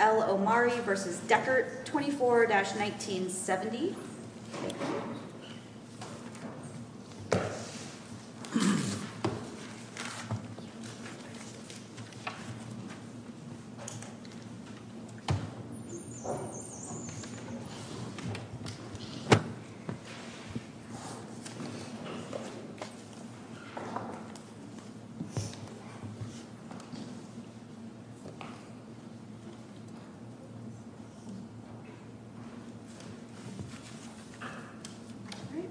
L. Omari v. Dechert, 24-1970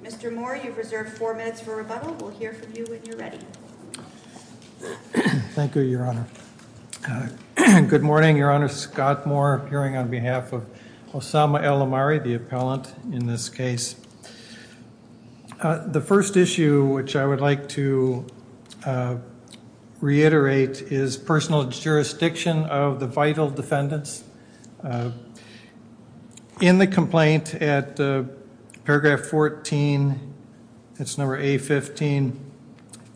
Mr. Moore, you've reserved four minutes for rebuttal. We'll hear from you when you're ready. Thank you, Your Honor. Good morning, Your Honor. Scott Moore, appearing on behalf of Osama L. Omari, the appellant in this case. The first issue which I would like to reiterate is personal jurisdiction of the vital defendants. In the complaint at paragraph 14, that's number A-15,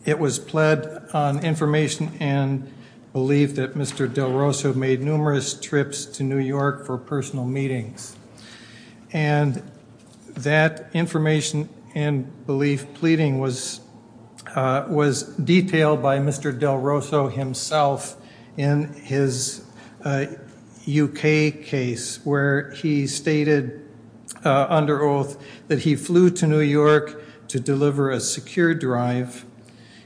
it was pled on information and belief that Mr. Del Rosso made numerous trips to New York for personal meetings. And that information and belief pleading was detailed by Mr. Del Rosso himself in his U.K. case where he stated under oath that he flew to New York to deliver a secure drive.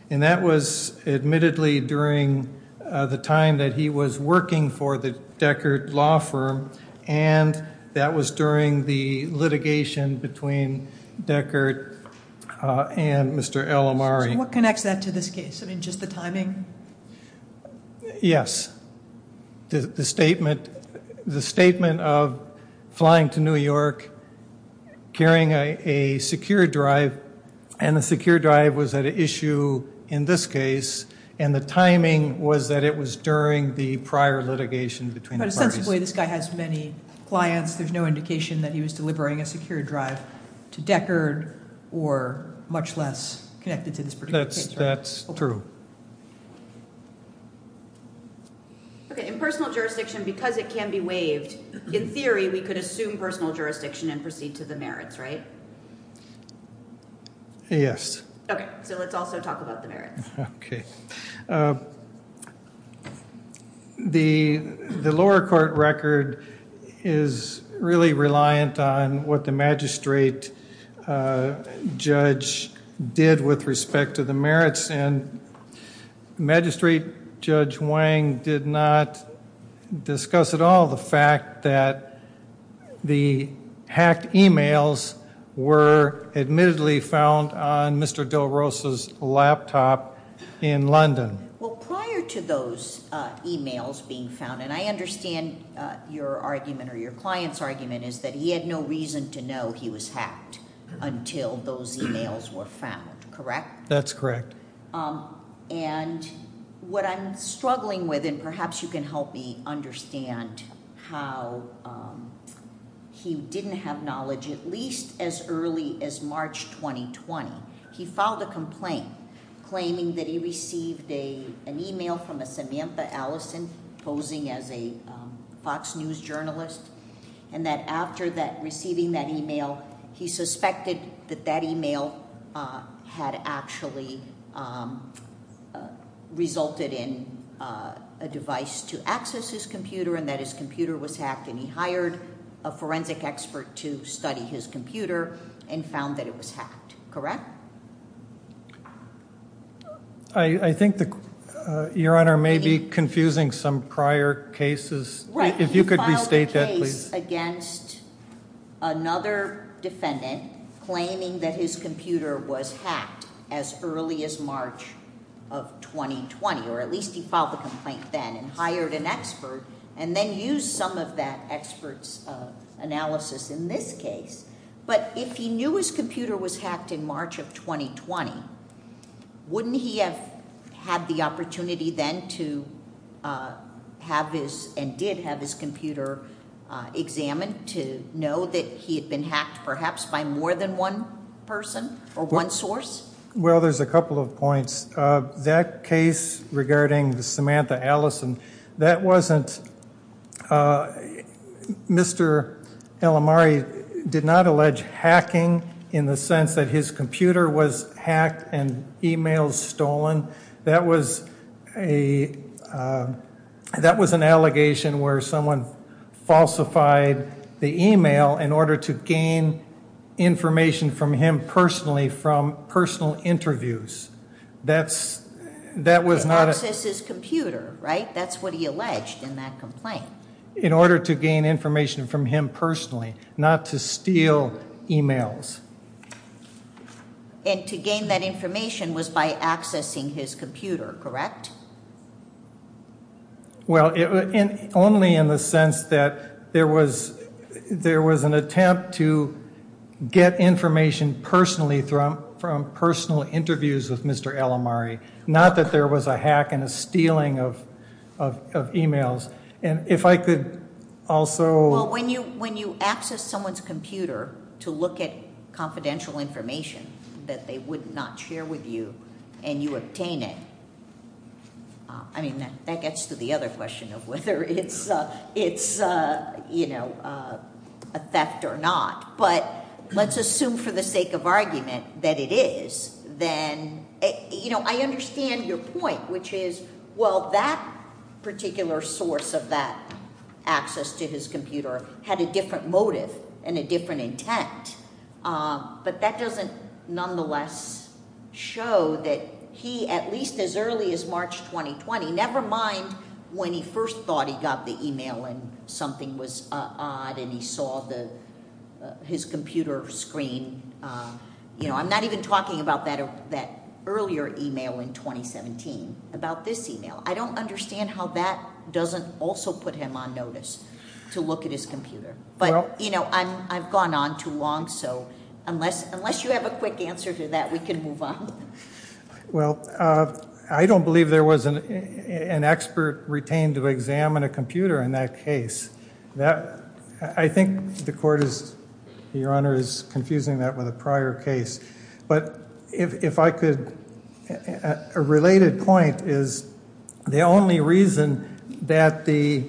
And that was admittedly during the time that he was working for the Dechert law firm and that was during the litigation between Dechert and Mr. L. Omari. So what connects that to this case? I mean, just the timing? Yes. The statement of flying to New York, carrying a secure drive, and the secure drive was at issue in this case, and the timing was that it was during the prior litigation between the parties. But ostensibly this guy has many clients. There's no indication that he was delivering a secure drive to Dechert or much less connected to this particular case, right? That's true. Okay. In personal jurisdiction, because it can be waived, in theory we could assume personal jurisdiction and proceed to the merits, right? Yes. Okay. So let's also talk about the merits. Okay. The lower court record is really reliant on what the magistrate judge did with respect to the merits, and magistrate judge Wang did not discuss at all the fact that the hacked e-mails were admittedly found on Mr. Del Rosa's laptop in London. Well, prior to those e-mails being found, and I understand your argument or your client's argument is that he had no reason to know he was hacked until those e-mails were found, correct? That's correct. And what I'm struggling with, and perhaps you can help me understand how he didn't have knowledge at least as early as March 2020. He filed a complaint claiming that he received an e-mail from a Samantha Allison posing as a Fox News journalist, and that after receiving that e-mail, he suspected that that e-mail had actually resulted in a device to access his computer and that his computer was hacked, and he hired a forensic expert to study his computer and found that it was hacked, correct? I think, Your Honor, it may be confusing some prior cases. Right. If you could restate that, please. He filed a case against another defendant claiming that his computer was hacked as early as March of 2020, or at least he filed the complaint then and hired an expert and then used some of that expert's analysis in this case. But if he knew his computer was hacked in March of 2020, wouldn't he have had the opportunity then to have his and did have his computer examined to know that he had been hacked perhaps by more than one person or one source? Well, there's a couple of points. That case regarding Samantha Allison, that wasn't Mr. El Amari did not allege hacking in the sense that his computer was hacked and e-mails stolen. That was an allegation where someone falsified the e-mail in order to gain information from him personally from personal interviews. That was not a- To access his computer, right? That's what he alleged in that complaint. In order to gain information from him personally, not to steal e-mails. And to gain that information was by accessing his computer, correct? Well, only in the sense that there was an attempt to get information personally from personal interviews with Mr. El Amari, not that there was a hack and a stealing of e-mails. And if I could also- Well, when you access someone's computer to look at confidential information that they would not share with you and you obtain it, I mean, that gets to the other question of whether it's a theft or not. But let's assume for the sake of argument that it is, then I understand your point, which is, well, that particular source of that access to his computer had a different motive and a different intent. But that doesn't nonetheless show that he, at least as early as March 2020, never mind when he first thought he got the e-mail and something was odd and he saw his computer screen. I'm not even talking about that earlier e-mail in 2017, about this e-mail. I don't understand how that doesn't also put him on notice to look at his computer. But, you know, I've gone on too long, so unless you have a quick answer to that, we can move on. Well, I don't believe there was an expert retained to examine a computer in that case. I think the court is, Your Honor, is confusing that with a prior case. But if I could, a related point is the only reason that the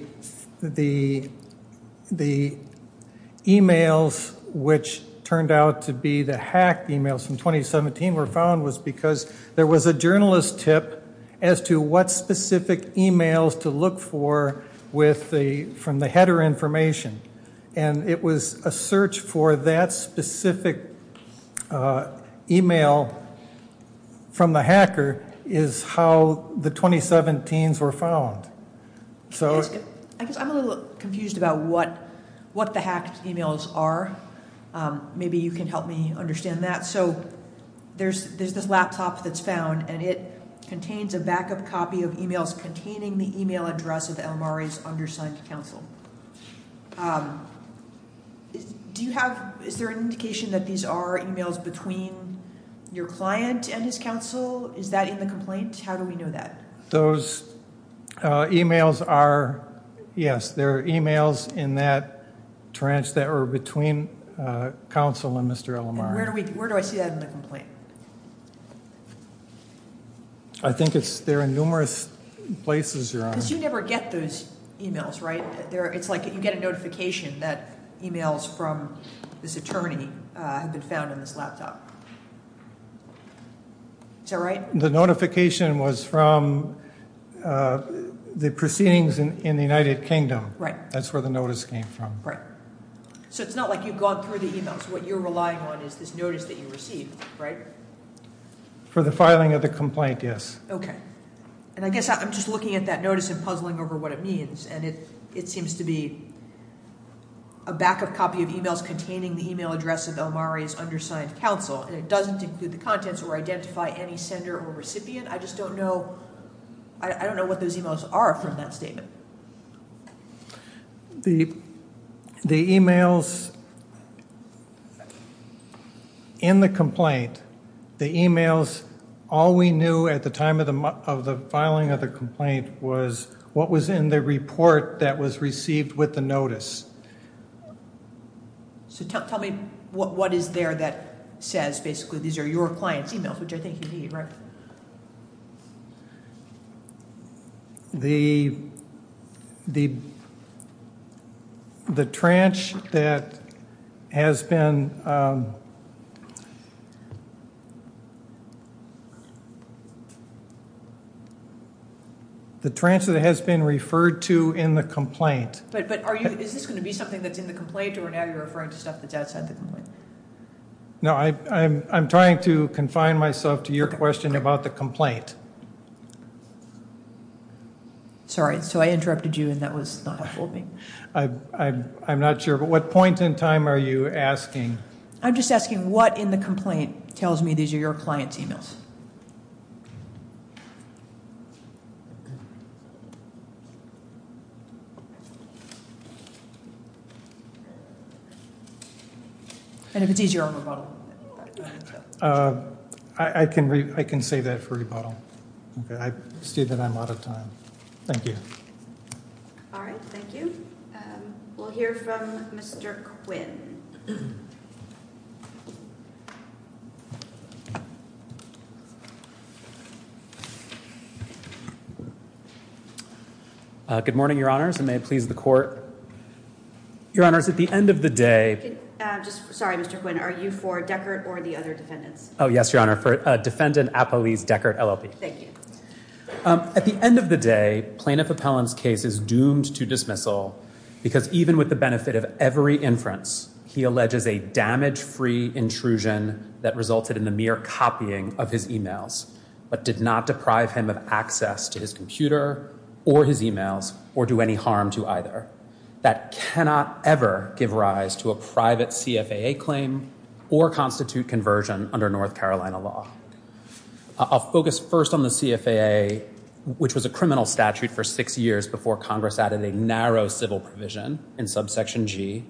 e-mails which turned out to be the hacked e-mails from 2017 were found was because there was a journalist tip as to what specific e-mails to look for from the header information. And it was a search for that specific e-mail from the hacker is how the 2017s were found. I guess I'm a little confused about what the hacked e-mails are. Maybe you can help me understand that. There's this laptop that's found, and it contains a backup copy of e-mails containing the e-mail address of Elmari's undersigned counsel. Do you have, is there an indication that these are e-mails between your client and his counsel? Is that in the complaint? How do we know that? Those e-mails are, yes, they're e-mails in that tranche that were between counsel and Mr. Elmari. Where do I see that in the complaint? I think they're in numerous places, Your Honor. Because you never get those e-mails, right? It's like you get a notification that e-mails from this attorney have been found in this laptop. Is that right? The notification was from the proceedings in the United Kingdom. Right. That's where the notice came from. Right. So it's not like you've gone through the e-mails. What you're relying on is this notice that you received, right? For the filing of the complaint, yes. Okay. And I guess I'm just looking at that notice and puzzling over what it means. And it seems to be a backup copy of e-mails containing the e-mail address of Elmari's undersigned counsel. And it doesn't include the contents or identify any sender or recipient. I just don't know, I don't know what those e-mails are from that statement. The e-mails in the complaint, the e-mails, all we knew at the time of the filing of the complaint, was what was in the report that was received with the notice. So tell me what is there that says basically these are your client's e-mails, which I think you mean, right? The, the, the tranche that has been, the tranche that has been referred to in the complaint. But are you, is this going to be something that's in the complaint or now you're referring to stuff that's outside the complaint? No, I, I'm trying to confine myself to your question about the complaint. Sorry, so I interrupted you and that was not helpful to me. I, I, I'm not sure, but what point in time are you asking? I'm just asking what in the complaint tells me these are your client's e-mails? And if it's easier on rebuttal. I, I can, I can save that for rebuttal. Okay, I see that I'm out of time. Thank you. All right, thank you. We'll hear from Mr. Quinn. Good morning, your honors, and may it please the court. Your honors, at the end of the day. Just, sorry, Mr. Quinn, are you for Deckert or the other defendants? Oh, yes, your honor, for defendant Apolise Deckert, LLP. Thank you. At the end of the day, plaintiff Appellant's case is doomed to dismissal because even with the benefit of every inference, he alleges a damage-free intrusion that resulted in the mere copying of his e-mails, but did not deprive him of access to his computer or his e-mails or do any harm to either. That cannot ever give rise to a private CFAA claim or constitute conversion under North Carolina law. I'll focus first on the CFAA, which was a criminal statute for six years before Congress added a narrow civil provision in subsection G,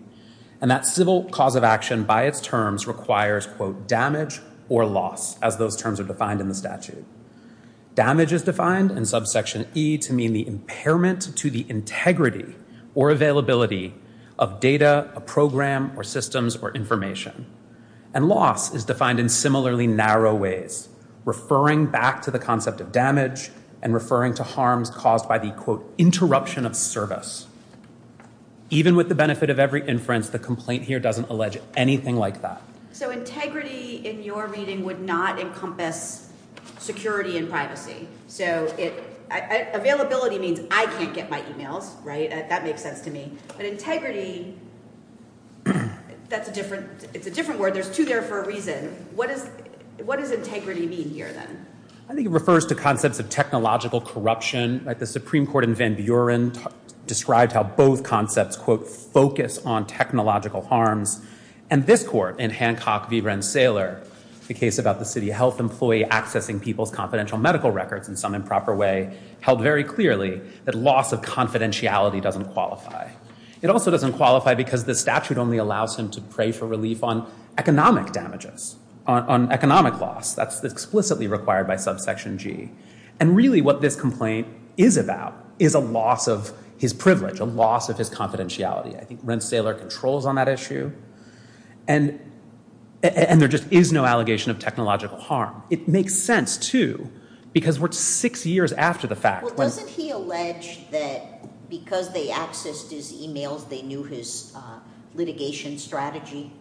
and that civil cause of action by its terms requires, quote, damage or loss, as those terms are defined in the statute. Damage is defined in subsection E to mean the impairment to the integrity or availability of data, a program, or systems, or information. And loss is defined in similarly narrow ways, referring back to the concept of damage and referring to harms caused by the, quote, interruption of service. Even with the benefit of every inference, the complaint here doesn't allege anything like that. So integrity in your reading would not encompass security and privacy. So availability means I can't get my e-mails, right? That makes sense to me. But integrity, that's a different, it's a different word. There's two there for a reason. What does integrity mean here, then? I think it refers to concepts of technological corruption. The Supreme Court in Van Buren described how both concepts, quote, focus on technological harms. And this court in Hancock v. Rensselaer, the case about the city health employee accessing people's confidential medical records in some improper way, held very clearly that loss of confidentiality doesn't qualify. It also doesn't qualify because the statute only allows him to pray for relief on economic damages, on economic loss. That's explicitly required by subsection G. And really what this complaint is about is a loss of his privilege, a loss of his confidentiality. I think Rensselaer controls on that issue. And there just is no allegation of technological harm. It makes sense, too, because we're six years after the fact. Well, doesn't he allege that because they accessed his e-mails, they knew his litigation strategy?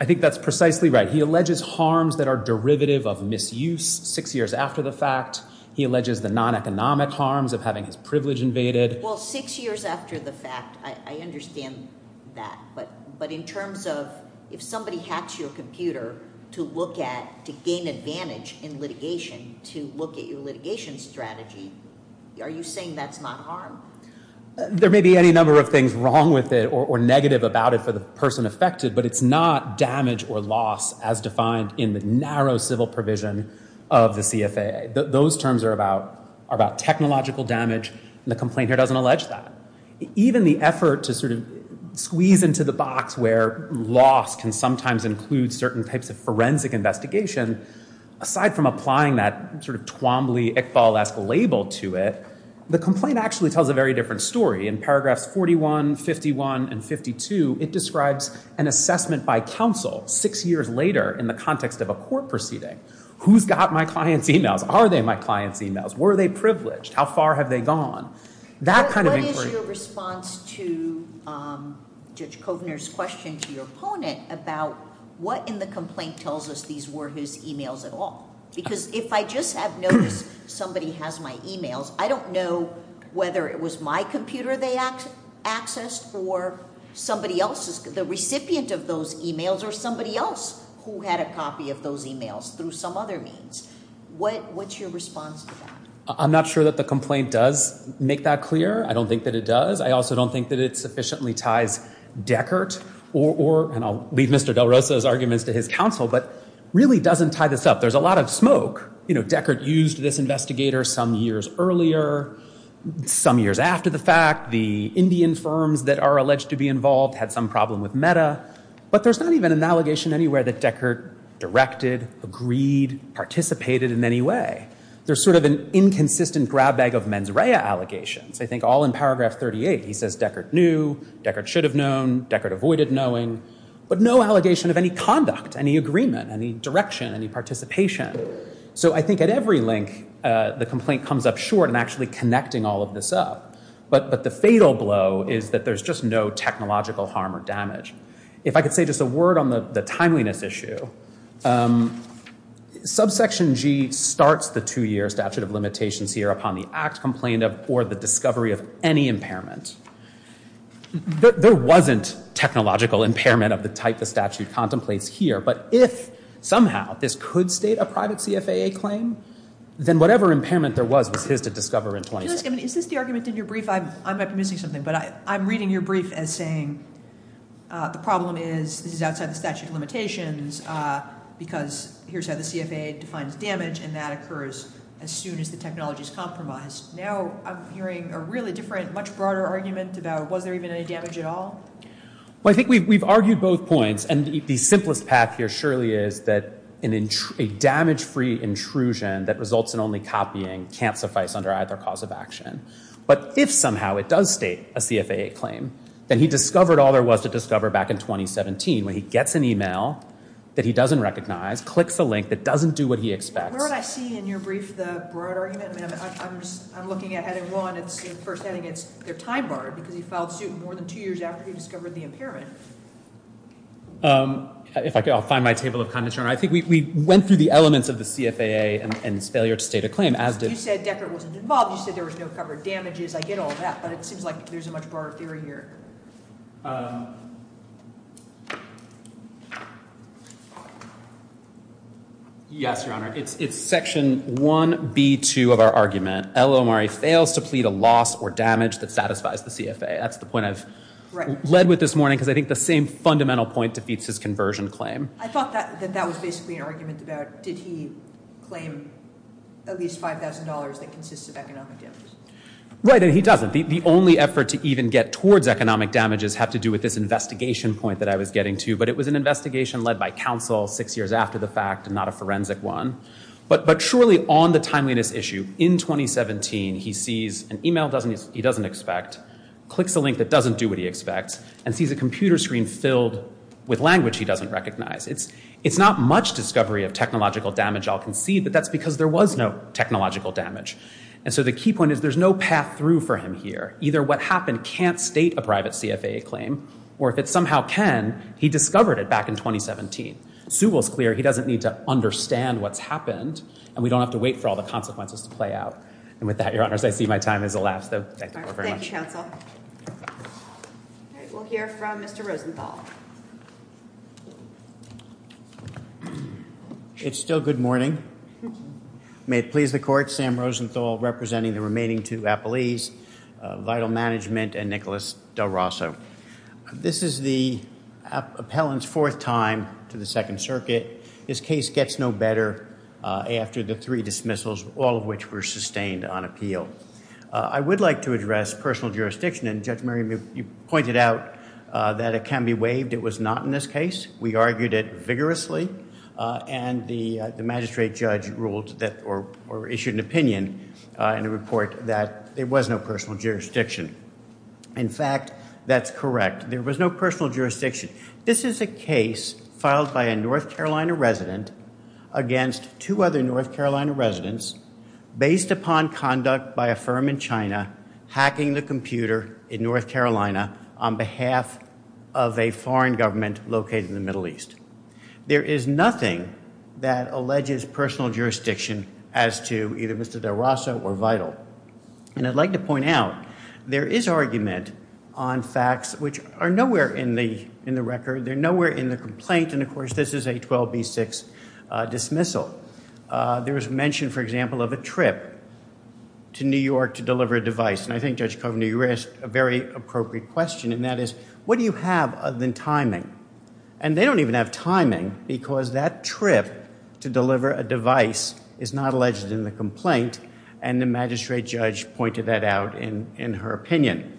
I think that's precisely right. He alleges harms that are derivative of misuse six years after the fact. He alleges the non-economic harms of having his privilege invaded. Well, six years after the fact, I understand that. But in terms of if somebody hacks your computer to look at, to gain advantage in litigation, to look at your litigation strategy, are you saying that's not harm? There may be any number of things wrong with it or negative about it for the person affected, but it's not damage or loss as defined in the narrow civil provision of the CFAA. Those terms are about technological damage, and the complaint here doesn't allege that. Even the effort to sort of squeeze into the box where loss can sometimes include certain types of forensic investigation, aside from applying that sort of Twombly, Iqbal-esque label to it, the complaint actually tells a very different story. In paragraphs 41, 51, and 52, it describes an assessment by counsel six years later in the context of a court proceeding. Who's got my client's emails? Are they my client's emails? Were they privileged? How far have they gone? That kind of inquiry— What is your response to Judge Kovner's question to your opponent about what in the complaint tells us these were his emails at all? Because if I just have noticed somebody has my emails, I don't know whether it was my computer they accessed or somebody else's. The recipient of those emails or somebody else who had a copy of those emails through some other means. What's your response to that? I'm not sure that the complaint does make that clear. I don't think that it does. I also don't think that it sufficiently ties Deckert or— and I'll leave Mr. Del Rosa's arguments to his counsel— but really doesn't tie this up. There's a lot of smoke. You know, Deckert used this investigator some years earlier, some years after the fact. The Indian firms that are alleged to be involved had some problem with Meta. But there's not even an allegation anywhere that Deckert directed, agreed, participated in any way. There's sort of an inconsistent grab bag of mens rea allegations. I think all in paragraph 38 he says Deckert knew, Deckert should have known, Deckert avoided knowing. But no allegation of any conduct, any agreement, any direction, any participation. So I think at every link the complaint comes up short in actually connecting all of this up. But the fatal blow is that there's just no technological harm or damage. If I could say just a word on the timeliness issue. Subsection G starts the two-year statute of limitations here upon the act complained of or the discovery of any impairment. There wasn't technological impairment of the type the statute contemplates here. But if somehow this could state a private CFAA claim, then whatever impairment there was was his to discover in 2016. Is this the argument in your brief? I might be missing something. But I'm reading your brief as saying the problem is this is outside the statute of limitations because here's how the CFAA defines damage and that occurs as soon as the technology is compromised. Now I'm hearing a really different, much broader argument about was there even any damage at all? Well, I think we've argued both points. And the simplest path here surely is that a damage-free intrusion that results in only copying can't suffice under either cause of action. But if somehow it does state a CFAA claim, then he discovered all there was to discover back in 2017 when he gets an email that he doesn't recognize, clicks the link that doesn't do what he expects. Where would I see in your brief the broader argument? I'm looking at heading one. In the first heading, it's their time bar because he filed suit more than two years after he discovered the impairment. If I could, I'll find my table of comments here. I think we went through the elements of the CFAA and its failure to state a claim. You said Deckert wasn't involved. You said there was no covered damages. I get all that, but it seems like there's a much broader theory here. Yes, Your Honor. It's section 1B2 of our argument. El-Omari fails to plead a loss or damage that satisfies the CFAA. That's the point I've led with this morning because I think the same fundamental point defeats his conversion claim. I thought that that was basically an argument about did he claim at least $5,000 that consists of economic damages. Right, and he doesn't. The only effort to even get towards economic damages had to do with this investigation point that I was getting to, but it was an investigation led by counsel six years after the fact and not a forensic one. But surely on the timeliness issue, in 2017, he sees an email he doesn't expect, clicks a link that doesn't do what he expects, and sees a computer screen filled with language he doesn't recognize. It's not much discovery of technological damage I'll concede, but that's because there was no technological damage. And so the key point is there's no path through for him here. Either what happened can't state a private CFAA claim, or if it somehow can, he discovered it back in 2017. Sewell's clear he doesn't need to understand what's happened, and we don't have to wait for all the consequences to play out. And with that, Your Honors, I see my time has elapsed. Thank you very much. Thank you, counsel. All right, we'll hear from Mr. Rosenthal. It's still good morning. May it please the court, Sam Rosenthal representing the remaining two appellees, Vital Management and Nicholas Del Rosso. This is the appellant's fourth time to the Second Circuit. His case gets no better after the three dismissals, all of which were sustained on appeal. I would like to address personal jurisdiction, and Judge Murray, you pointed out that it can be waived. It was not in this case. It was waived vigorously, and the magistrate judge ruled, or issued an opinion in a report that there was no personal jurisdiction. In fact, that's correct. There was no personal jurisdiction. This is a case filed by a North Carolina resident against two other North Carolina residents based upon conduct by a firm in China hacking the computer in North Carolina on behalf of a foreign government located in the Middle East. There is nothing that alleges personal jurisdiction as to either Mr. Del Rosso or Vital. And I'd like to point out, there is argument on facts which are nowhere in the record. They're nowhere in the complaint, and, of course, this is a 12B6 dismissal. There was mention, for example, of a trip to New York to deliver a device, and I think, Judge Kovner, you raised a very appropriate question, and that is, what do you have other than timing? And they don't even have timing, because that trip to deliver a device is not alleged in the complaint, and the magistrate judge pointed that out in her opinion.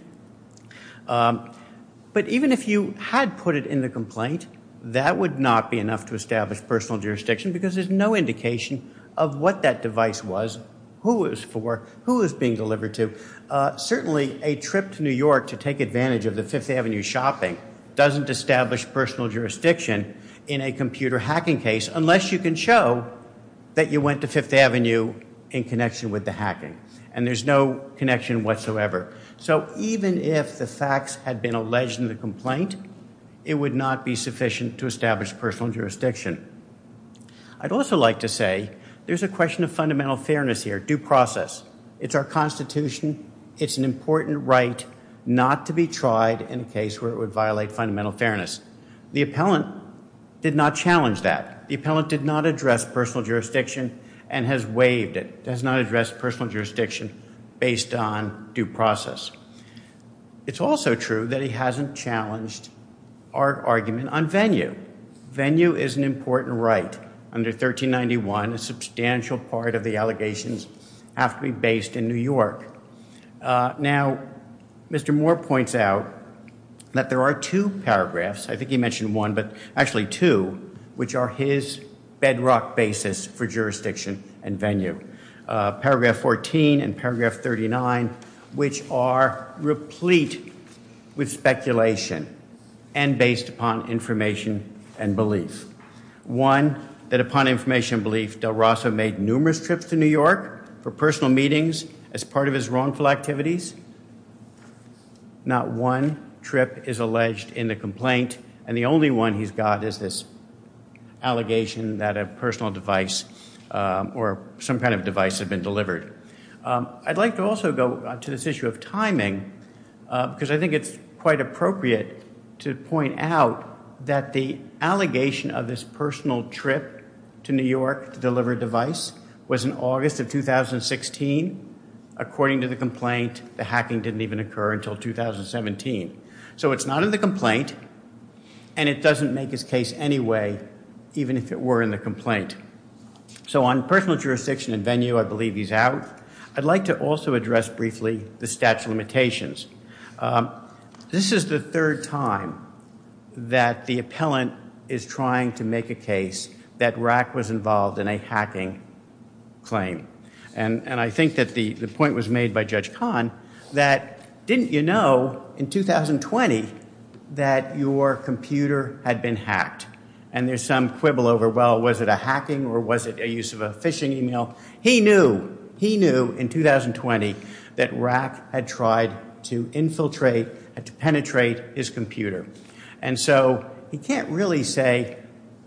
But even if you had put it in the complaint, that would not be enough to establish personal jurisdiction because there's no indication of what that device was, who it was for, who it was being delivered to. Certainly, a trip to New York to take advantage of the Fifth Avenue shopping doesn't establish personal jurisdiction in a computer hacking case unless you can show that you went to Fifth Avenue in connection with the hacking, and there's no connection whatsoever. So even if the facts had been alleged in the complaint, it would not be sufficient to establish personal jurisdiction. I'd also like to say, there's a question of fundamental fairness here, due process. It's our Constitution. It's an important right not to be tried in a case where it would violate fundamental fairness. The appellant did not challenge that. The appellant did not address personal jurisdiction and has waived it. Does not address personal jurisdiction based on due process. It's also true that he hasn't challenged our argument on venue. Venue is an important right. Under 1391, a substantial part of the allegations have to be based in New York. Now, Mr. Moore points out that there are two paragraphs, I think he mentioned one, but actually two, which are his bedrock basis for jurisdiction and venue. Paragraph 14 and paragraph 39, which are replete with speculation and based upon information and belief. One, that upon information and belief, del Rosso made numerous trips to New York for personal meetings as part of his wrongful activities. Not one trip is alleged in the complaint and the only one he's got is this allegation that a personal device or some kind of device had been delivered. I'd like to also go to this issue of timing because I think it's quite appropriate to point out that the allegation of this personal trip to New York to deliver a device was in August of 2016 according to the complaint and the hacking didn't even occur until 2017. So it's not in the complaint and it doesn't make his case anyway even if it were in the complaint. So on personal jurisdiction and venue, I believe he's out. I'd like to also address briefly the statute of limitations. This is the third time that the appellant is trying to make a case that Rack was involved in a hacking claim and I think that the point was made by Judge Kahn that didn't you know in 2020 that your computer had been hacked and there's some quibble over well was it a hacking or was it a use of a phishing email? He knew, he knew in 2020 that Rack had tried to infiltrate and to penetrate his computer and so he can't really say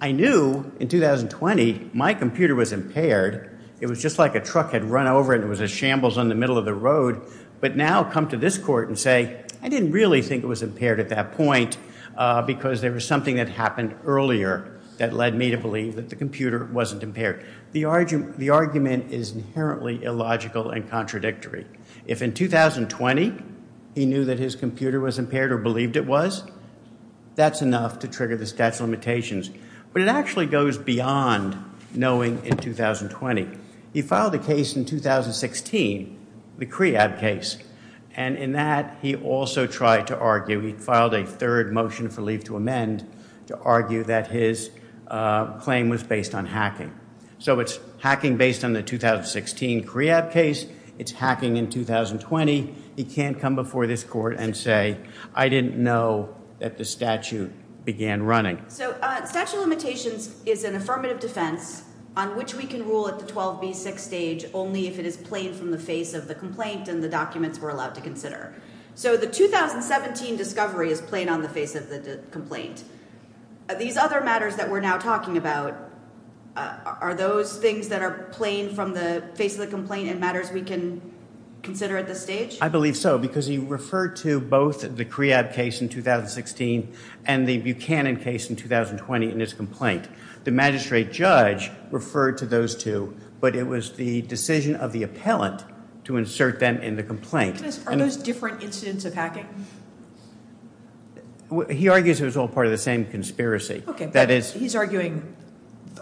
I knew in 2020 my computer was impaired. It was just like a truck had run over and it was a shambles on the middle of the road and now come to this court and say I didn't really think it was impaired at that point because there was something that happened earlier that led me to believe that the computer wasn't impaired. The argument is inherently illogical and contradictory. If in 2020 he knew that his computer was impaired or believed it was, that's enough to trigger the statute of limitations but it actually goes beyond knowing in 2020. He filed a case in 2016, the CREAB case and in that he also tried to argue, he filed a third motion for leave to amend to argue that his claim was based on hacking. So it's hacking based on the 2016 CREAB case, it's hacking in 2020, he can't come before this court and say I didn't know that the statute began running. So statute of limitations is an affirmative defense on which we can rule at the 12B6 stage only if it is plain from the face of the complaint and the documents we're allowed to consider. So the 2017 discovery is plain on the face of the complaint. These other matters that we're now talking about, are those things that are plain from the face of the complaint and matters we can consider at this stage? I believe so because he referred to both the CREAB case in 2016 and the Buchanan case in 2020 in his complaint. The magistrate judge referred to those two but it was the decision of the appellant to insert them in the complaint. Are those different incidents of hacking? He argues it was all part of the same conspiracy. He's arguing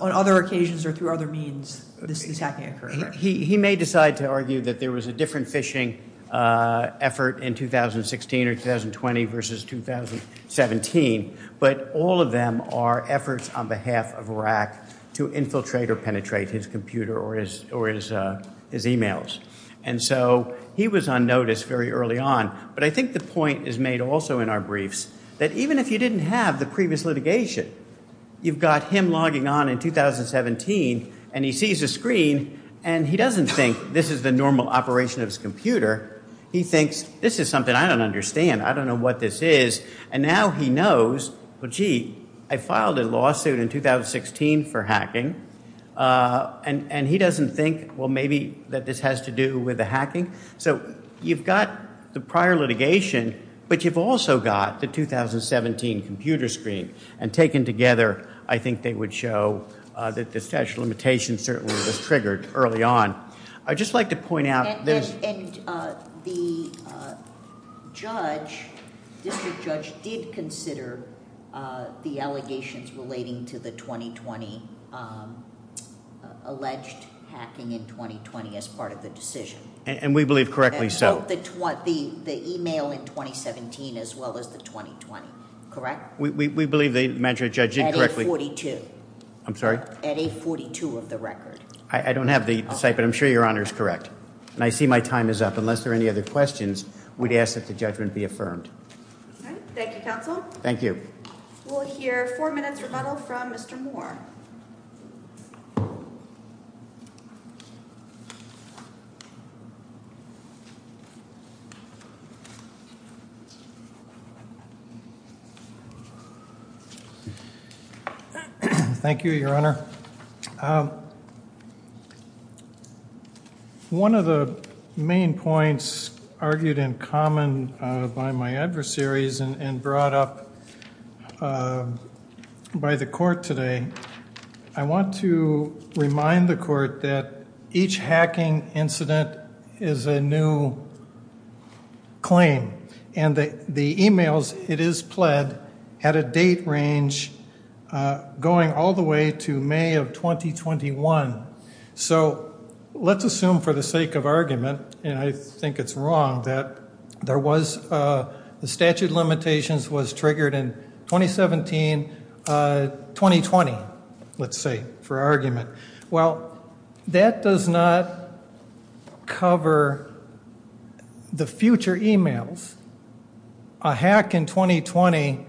on other occasions or through other means this hacking occurred. He may decide to argue that there was a different phishing effort in 2016 or 2020 versus 2017 but all of them are efforts on behalf of Rack to infiltrate or penetrate his computer or his emails. And so he was on notice very early on but I think the point is made also in our briefs that even if you didn't have the previous litigation, you've got him logging on in 2017 and he sees a screen and he doesn't think this is the normal operation of his computer. He thinks this is something I don't understand. I don't know what this is. And now he knows, well gee, I filed a lawsuit in 2016 for hacking and he doesn't think, well maybe that this has to do with the hacking. So you've got the prior litigation but you've also got the 2017 computer screen and taken together I think they would show that the statute of limitations certainly was triggered early on. I'd just like to point out. And the judge, district judge did consider the allegations relating to the 2020 alleged hacking in 2020 as part of the decision. And we believe correctly so. The email in 2017 as well as the 2020, correct? We believe the magistrate judge did correctly. At 842. I'm sorry? At 842 of the record. I don't have the site but I'm sure your honor is correct. And I see my time is up. Unless there are any other questions, we'd ask that the judgment be affirmed. Thank you counsel. Thank you. We'll hear four minutes rebuttal from Mr. Moore. Thank you. Thank you, your honor. One of the main points argued in common by my adversaries and brought up by the court today, I want to remind the court that each hacking incident is a new claim. And the emails it is pled had a date range going all the way to May of 2021. So let's assume for the sake of argument, and I think it's wrong, that the statute of limitations was triggered in 2017, 2020, let's say, for argument. Well, that does not cover the future emails. A hack in 2020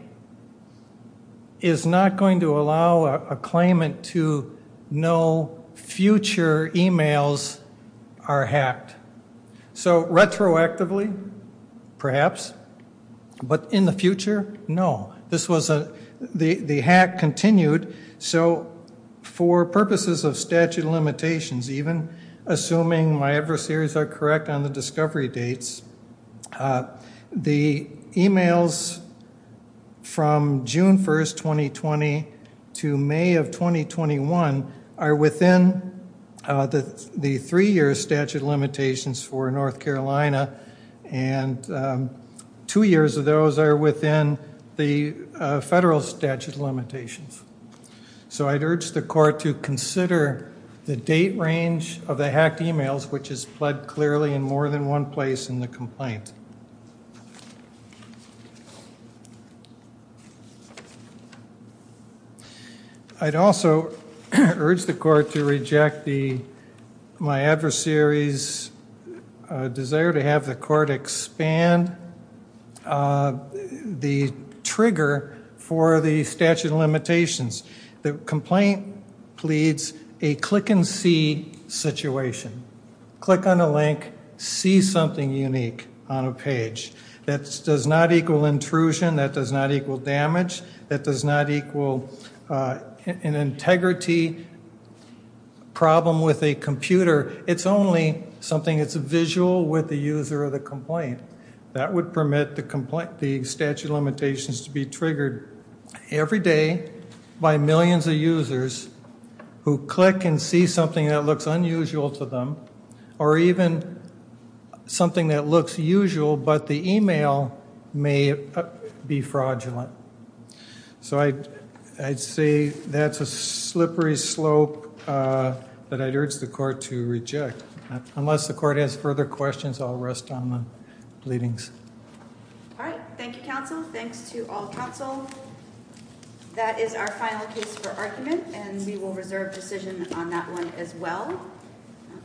is not going to allow a claimant to know future emails are hacked. So retroactively, perhaps, but in the future, no. The hack continued. So for purposes of statute of limitations, even assuming my adversaries are correct on the discovery dates, the emails from June 1st, 2020 to May of 2021 are within the three-year statute of limitations for North Carolina. And two years of those are within the federal statute of limitations. So I'd urge the court to consider the date range of the hacked emails, which is pled clearly in more than one place in the complaint. I'd also urge the court to reject my adversaries' desire to have the court expand the trigger for the statute of limitations. The complaint pleads a click-and-see situation. Click on a link, see something unique on a page. That does not equal intrusion, that does not equal damage, that does not equal an integrity problem with a computer. It's only something that's visual with the user of the complaint. That would permit the statute of limitations to be triggered every day by millions of users who click and see something that looks unusual to them or even something that looks usual but the email may be fraudulent. So I'd say that's a slippery slope that I'd urge the court to reject. Unless the court has further questions, I'll rest on the pleadings. All right. Thank you, counsel. Thanks to all counsel. That is our final case for argument and we will reserve decision on that one as well.